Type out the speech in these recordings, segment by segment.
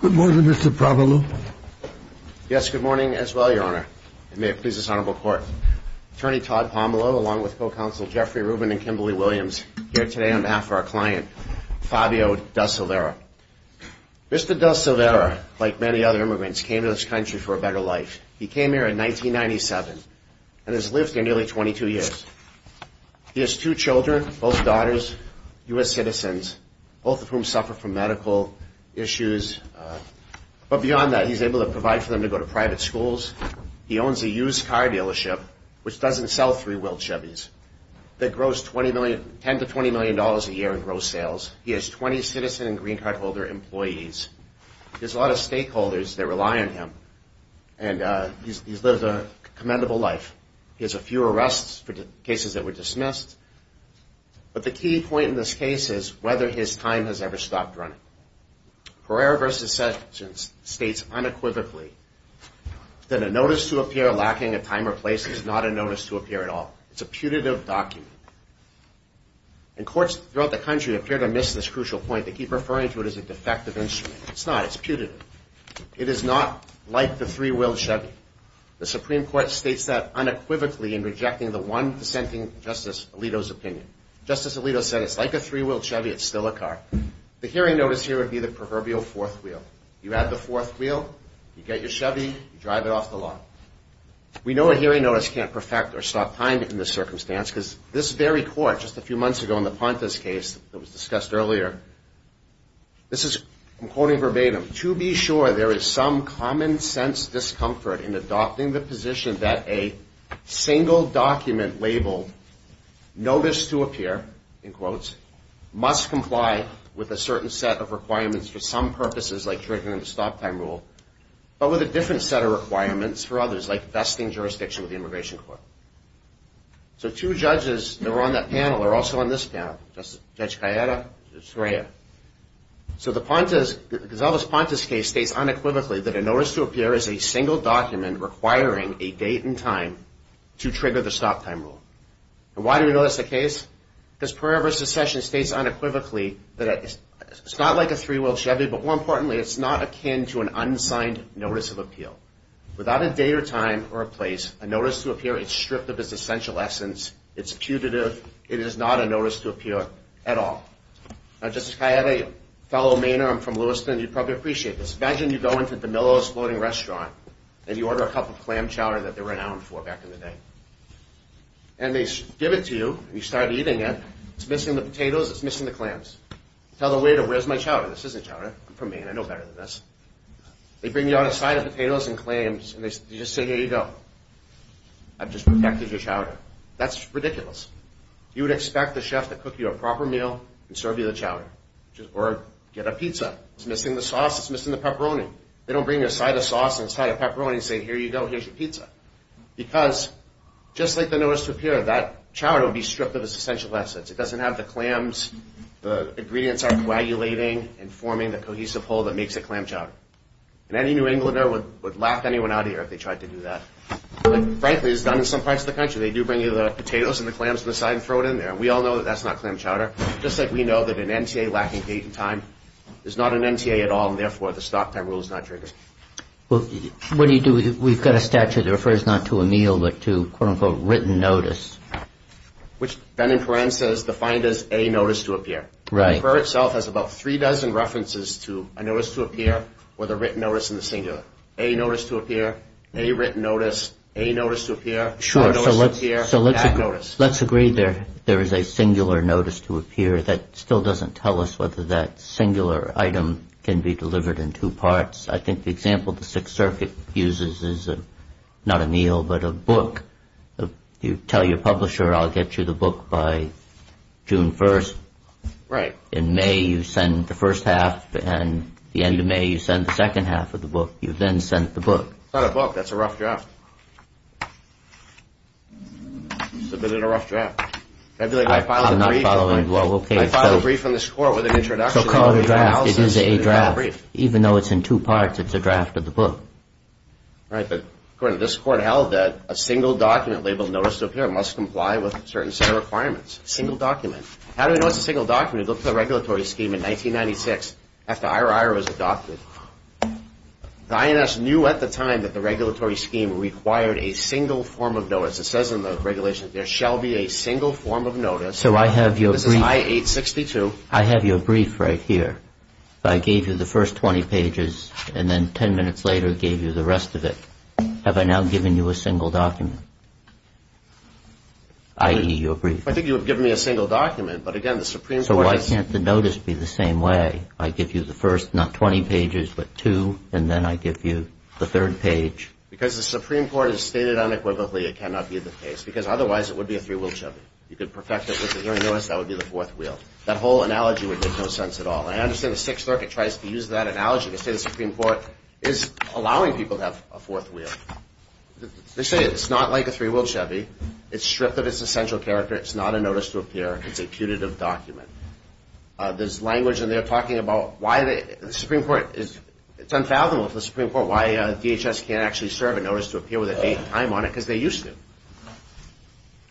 Good morning, Mr. Pomelo. Yes, good morning as well, Your Honor. It may please this Honorable Court. Attorney Todd Pomelo, along with co-counsel Jeffrey Rubin and Kimberly Williams, here today on behalf of our client, Fabio De Silveira. Mr. De Silveira, like many other immigrants, came to this country for a better life. He came here in 1997 and has lived here nearly 22 years. He has two children, both daughters, U.S. citizens, both of whom suffer from medical issues. But beyond that, he's able to provide for them to go to private schools. He owns a used car dealership, which doesn't sell three-wheeled Chevys, that grows $10 to $20 a year in gross sales. He has 20 citizen and green card holder employees. There's a lot of stakeholders that rely on him, and he's lived a commendable life. He has a few arrests for cases that were dismissed. But the key point in this case is whether his time has ever stopped running. Pereira v. Sessions states unequivocally that a notice to appear to miss this crucial point, they keep referring to it as a defective instrument. It's not. It's putative. It is not like the three-wheeled Chevy. The Supreme Court states that unequivocally in rejecting the one dissenting Justice Alito's opinion. Justice Alito said it's like a three-wheeled Chevy, it's still a car. The hearing notice here would be the proverbial fourth wheel. You add the fourth wheel, you get your Chevy, you drive it off the lot. We know a hearing notice can't perfect or stop time in this circumstance, because this very court, just a few months ago in the Pontus case that was discussed earlier, this is, I'm quoting verbatim, to be sure there is some common sense discomfort in adopting the position that a single document labeled notice to appear, in quotes, must comply with a certain set of requirements for some purposes, like triggering the stop time rule, but with a different set of requirements for others, like vesting jurisdiction with the Immigration Court. So two judges that were on that panel are also on this panel, Judge Gallardo and Judge Sreya. So the Pontus, Gisela's Pontus case states unequivocally that a notice to appear is a single document requiring a date and time to trigger the stop time rule. And why do we know that's the case? Because Proverbial Secession states unequivocally that it's not like a three-wheeled Chevy, but more importantly, it's not akin to an unsigned notice of appeal. Without a date or time or a place, a notice to appear is stripped of its essential essence. It's putative. It is not a notice to appear at all. Now, Justice Kaye, I have a fellow Mainer. I'm from Lewiston. You'd probably appreciate this. Imagine you go into DeMillo's Floating Restaurant and you order a cup of clam chowder that they're renowned for back in the day. And they give it to you and you start eating it. It's missing the potatoes. It's missing the clams. Tell the waiter, where's my chowder? This isn't chowder. I'm from Maine. I know better than this. They bring you out a side of potatoes and clams and they just say, here you go. I've just protected your chowder. That's ridiculous. You would expect the chef to cook you a proper meal and serve you the chowder or get a pizza. It's missing the sauce. It's missing the pepperoni. They don't bring you a side of sauce and a side of pepperoni and say, here you go. Here's your pizza. Because just like the notice to appear, that chowder would be stripped of its essential essence. It doesn't have the clams. The ingredients aren't coagulating and forming the cohesive whole that makes a clam chowder. And any New Englander would laugh anyone out of here if they tried to do that. But frankly, it's done in some parts of the country. They do bring you the potatoes and the clams on the side and throw it in there. And we all know that that's not clam chowder. Just like we know that an NTA lacking paid time is not an NTA at all and therefore the stop time rule is not triggered. Well, what do you do if we've got a statute that refers not to a meal but to, quote unquote, written notice? Which Ben and Karen says defined as a notice to appear. Right. The paper itself has about three dozen references to a notice to appear or the written notice in the singular. A notice to appear, a written notice, a notice to appear, a notice to appear, that notice. Let's agree there is a singular notice to appear. That still doesn't tell us whether that singular item can be delivered in two parts. I think the example the Sixth Circuit uses is not a meal but a book. You tell your publisher, I'll get you the book by June 1st in May you send the first half and the end of May you send the second half of the book. You then send the book. It's not a book. That's a rough draft. Submit it a rough draft. I filed a brief on this court with an introduction. So call it a draft. It is a draft. Even though it's in two parts, it's a draft of the book. Right. But according to this court held that a single document labeled notice to appear must comply with certain set of requirements. Single document. How do we know it's a single document? Look at the regulatory scheme in 1996 after I.R.I.R. was adopted. The INS knew at the time that the regulatory scheme required a single form of notice. It says in the regulation there shall be a single form of notice. So I have your brief. This is I-862. I have your brief right here. I gave you the first 20 pages and then 10 minutes later gave you the rest of it. Have I now given you a single document? I.E. your brief. I think you have given me a single document, but again, the Supreme Court. So why can't the notice be the same way? I give you the first, not 20 pages, but two, and then I give you the third page. Because the Supreme Court has stated unequivocally it cannot be the case because otherwise it would be a three-wheel Chevy. You could perfect it with the hearing notice. That would be the fourth wheel. That whole analogy would make no sense at all. I understand the Sixth Circuit tries to use that analogy to say the Supreme Court is allowing people to have a fourth wheel. They say it's not like a three-wheel Chevy. It's stripped of its essential character. It's not a notice to appear. It's a putative document. There's language in there talking about why the Supreme Court is, it's unfathomable for the Supreme Court why DHS can't actually serve a notice to appear with a date and time on it because they used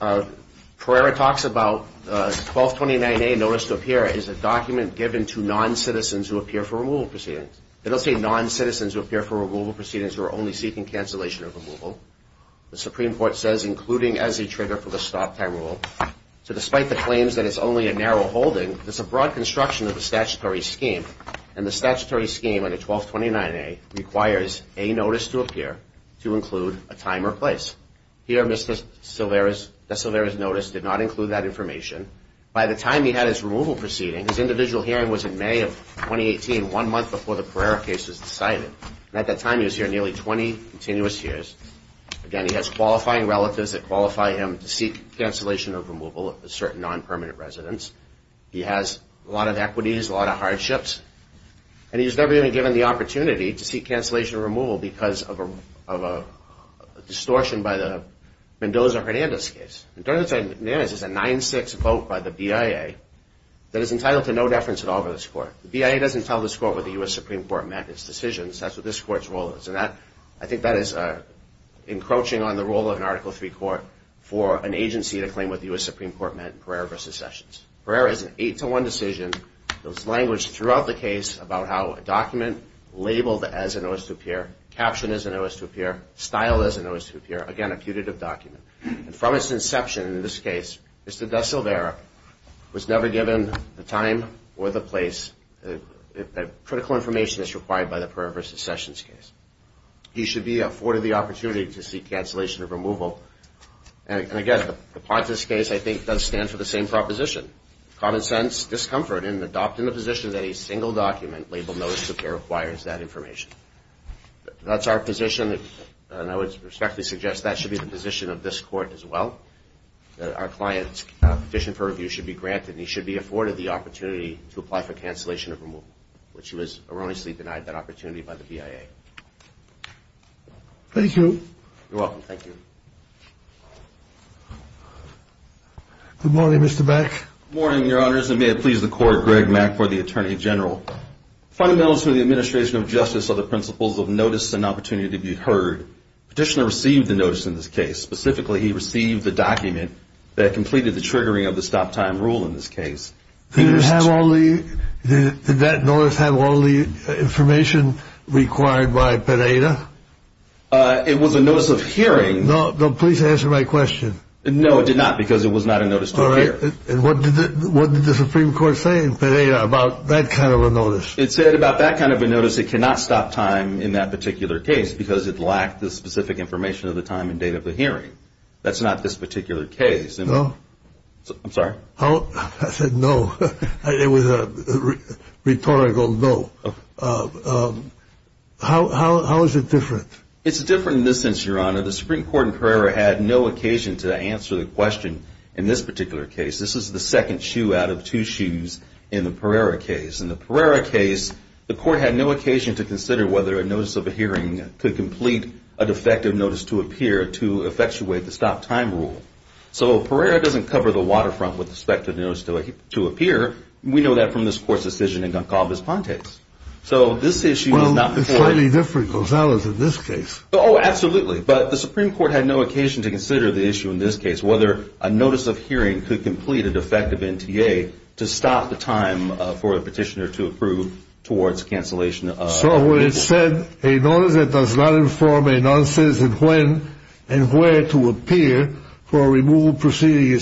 to. Pereira talks about 1229A, notice to appear, is a document given to non-citizens who appear for removal proceedings. It'll say non-citizens who appear for removal proceedings who are only seeking cancellation of removal. The Supreme Court says including as a trigger for the stop time rule. So despite the claims that it's only a narrow holding, it's a broad construction of the statutory scheme. And the statutory scheme under 1229A requires a notice to appear to include a time or place. Here Mr. DeSilvera's notice did not include that information. By the time he had his removal proceeding, his individual hearing was in May of 2018, one month before the Pereira case was decided. And at that time he was here nearly 20 continuous years. Again, he has qualifying relatives that qualify him to seek cancellation of removal of certain non-permanent residents. He has a lot of equities, a lot of hardships. And he was never even given the opportunity to seek cancellation of removal because of a distortion by the Mendoza-Hernandez case. Mendoza-Hernandez is a 9-6 vote by the BIA that is entitled to no deference at all by this Court. The BIA doesn't tell this Court what the U.S. Supreme Court mandates decisions. That's what this Court's role is. I think that is encroaching on the role of an Article III court for an agency to claim what the U.S. Supreme Court meant in Pereira v. Sessions. Pereira is an 8-1 decision that was languished throughout the case about how a document labeled as a notice to appear, captioned as a notice to appear, styled as a notice to appear, again a putative document. And from its inception in this case, Mr. DeSilvera was never given the time or the place, critical information as required by the Pereira v. Sessions case. He should be afforded the opportunity to seek cancellation of removal. And again, the Pontus case, I think, does stand for the same proposition. Common sense, discomfort, and adopting the position that a single document labeled notice to appear requires that information. That's our position, and I would respectfully suggest that should be the position of this Court as well, that our client's petition for review should be granted, and he should be afforded the opportunity to apply for cancellation of removal, which was erroneously denied that opportunity by the BIA. Thank you. You're welcome. Thank you. Good morning, Mr. Mack. Good morning, Your Honors, and may it please the Court, Greg Mack for the Attorney General. Fundamentals to the administration of justice are the principles of notice and opportunity to be heard. Petitioner received the notice in this case. Specifically, he received the document that completed the triggering of the stop-time rule in this case. Did that notice have all the information required by Pereira? It was a notice of hearing. No, please answer my question. No, it did not, because it was not a notice to appear. And what did the Supreme Court say in Pereira about that kind of a notice? It said about that kind of a notice, it cannot stop time in that particular case, because it lacked the specific information of the time and date of the hearing. That's not this particular case. No? I'm sorry? I said no. It was a rhetorical no. How is it different? It's different in this sense, Your Honor. The Supreme Court in Pereira had no occasion to answer the question in this particular case. This is the second shoe out of two shoes in the Pereira case. In the Pereira case, the court had no occasion to consider whether a notice of hearing could complete a defective notice to appear to effectuate the stop-time rule. So Pereira doesn't cover the waterfront with respect to the notice to appear. We know that from this Court's decision in Goncalves-Pontes. So this issue is not before us. Well, it's slightly different from Gonzalez in this case. Oh, absolutely. But the Supreme Court had no occasion to consider the issue in this case, whether a notice of hearing could complete a defective NTA to stop the time for the petitioner to approve towards cancellation of removal. So when it said, a notice that does not inform a noncitizen when and where to appear for removal proceeding is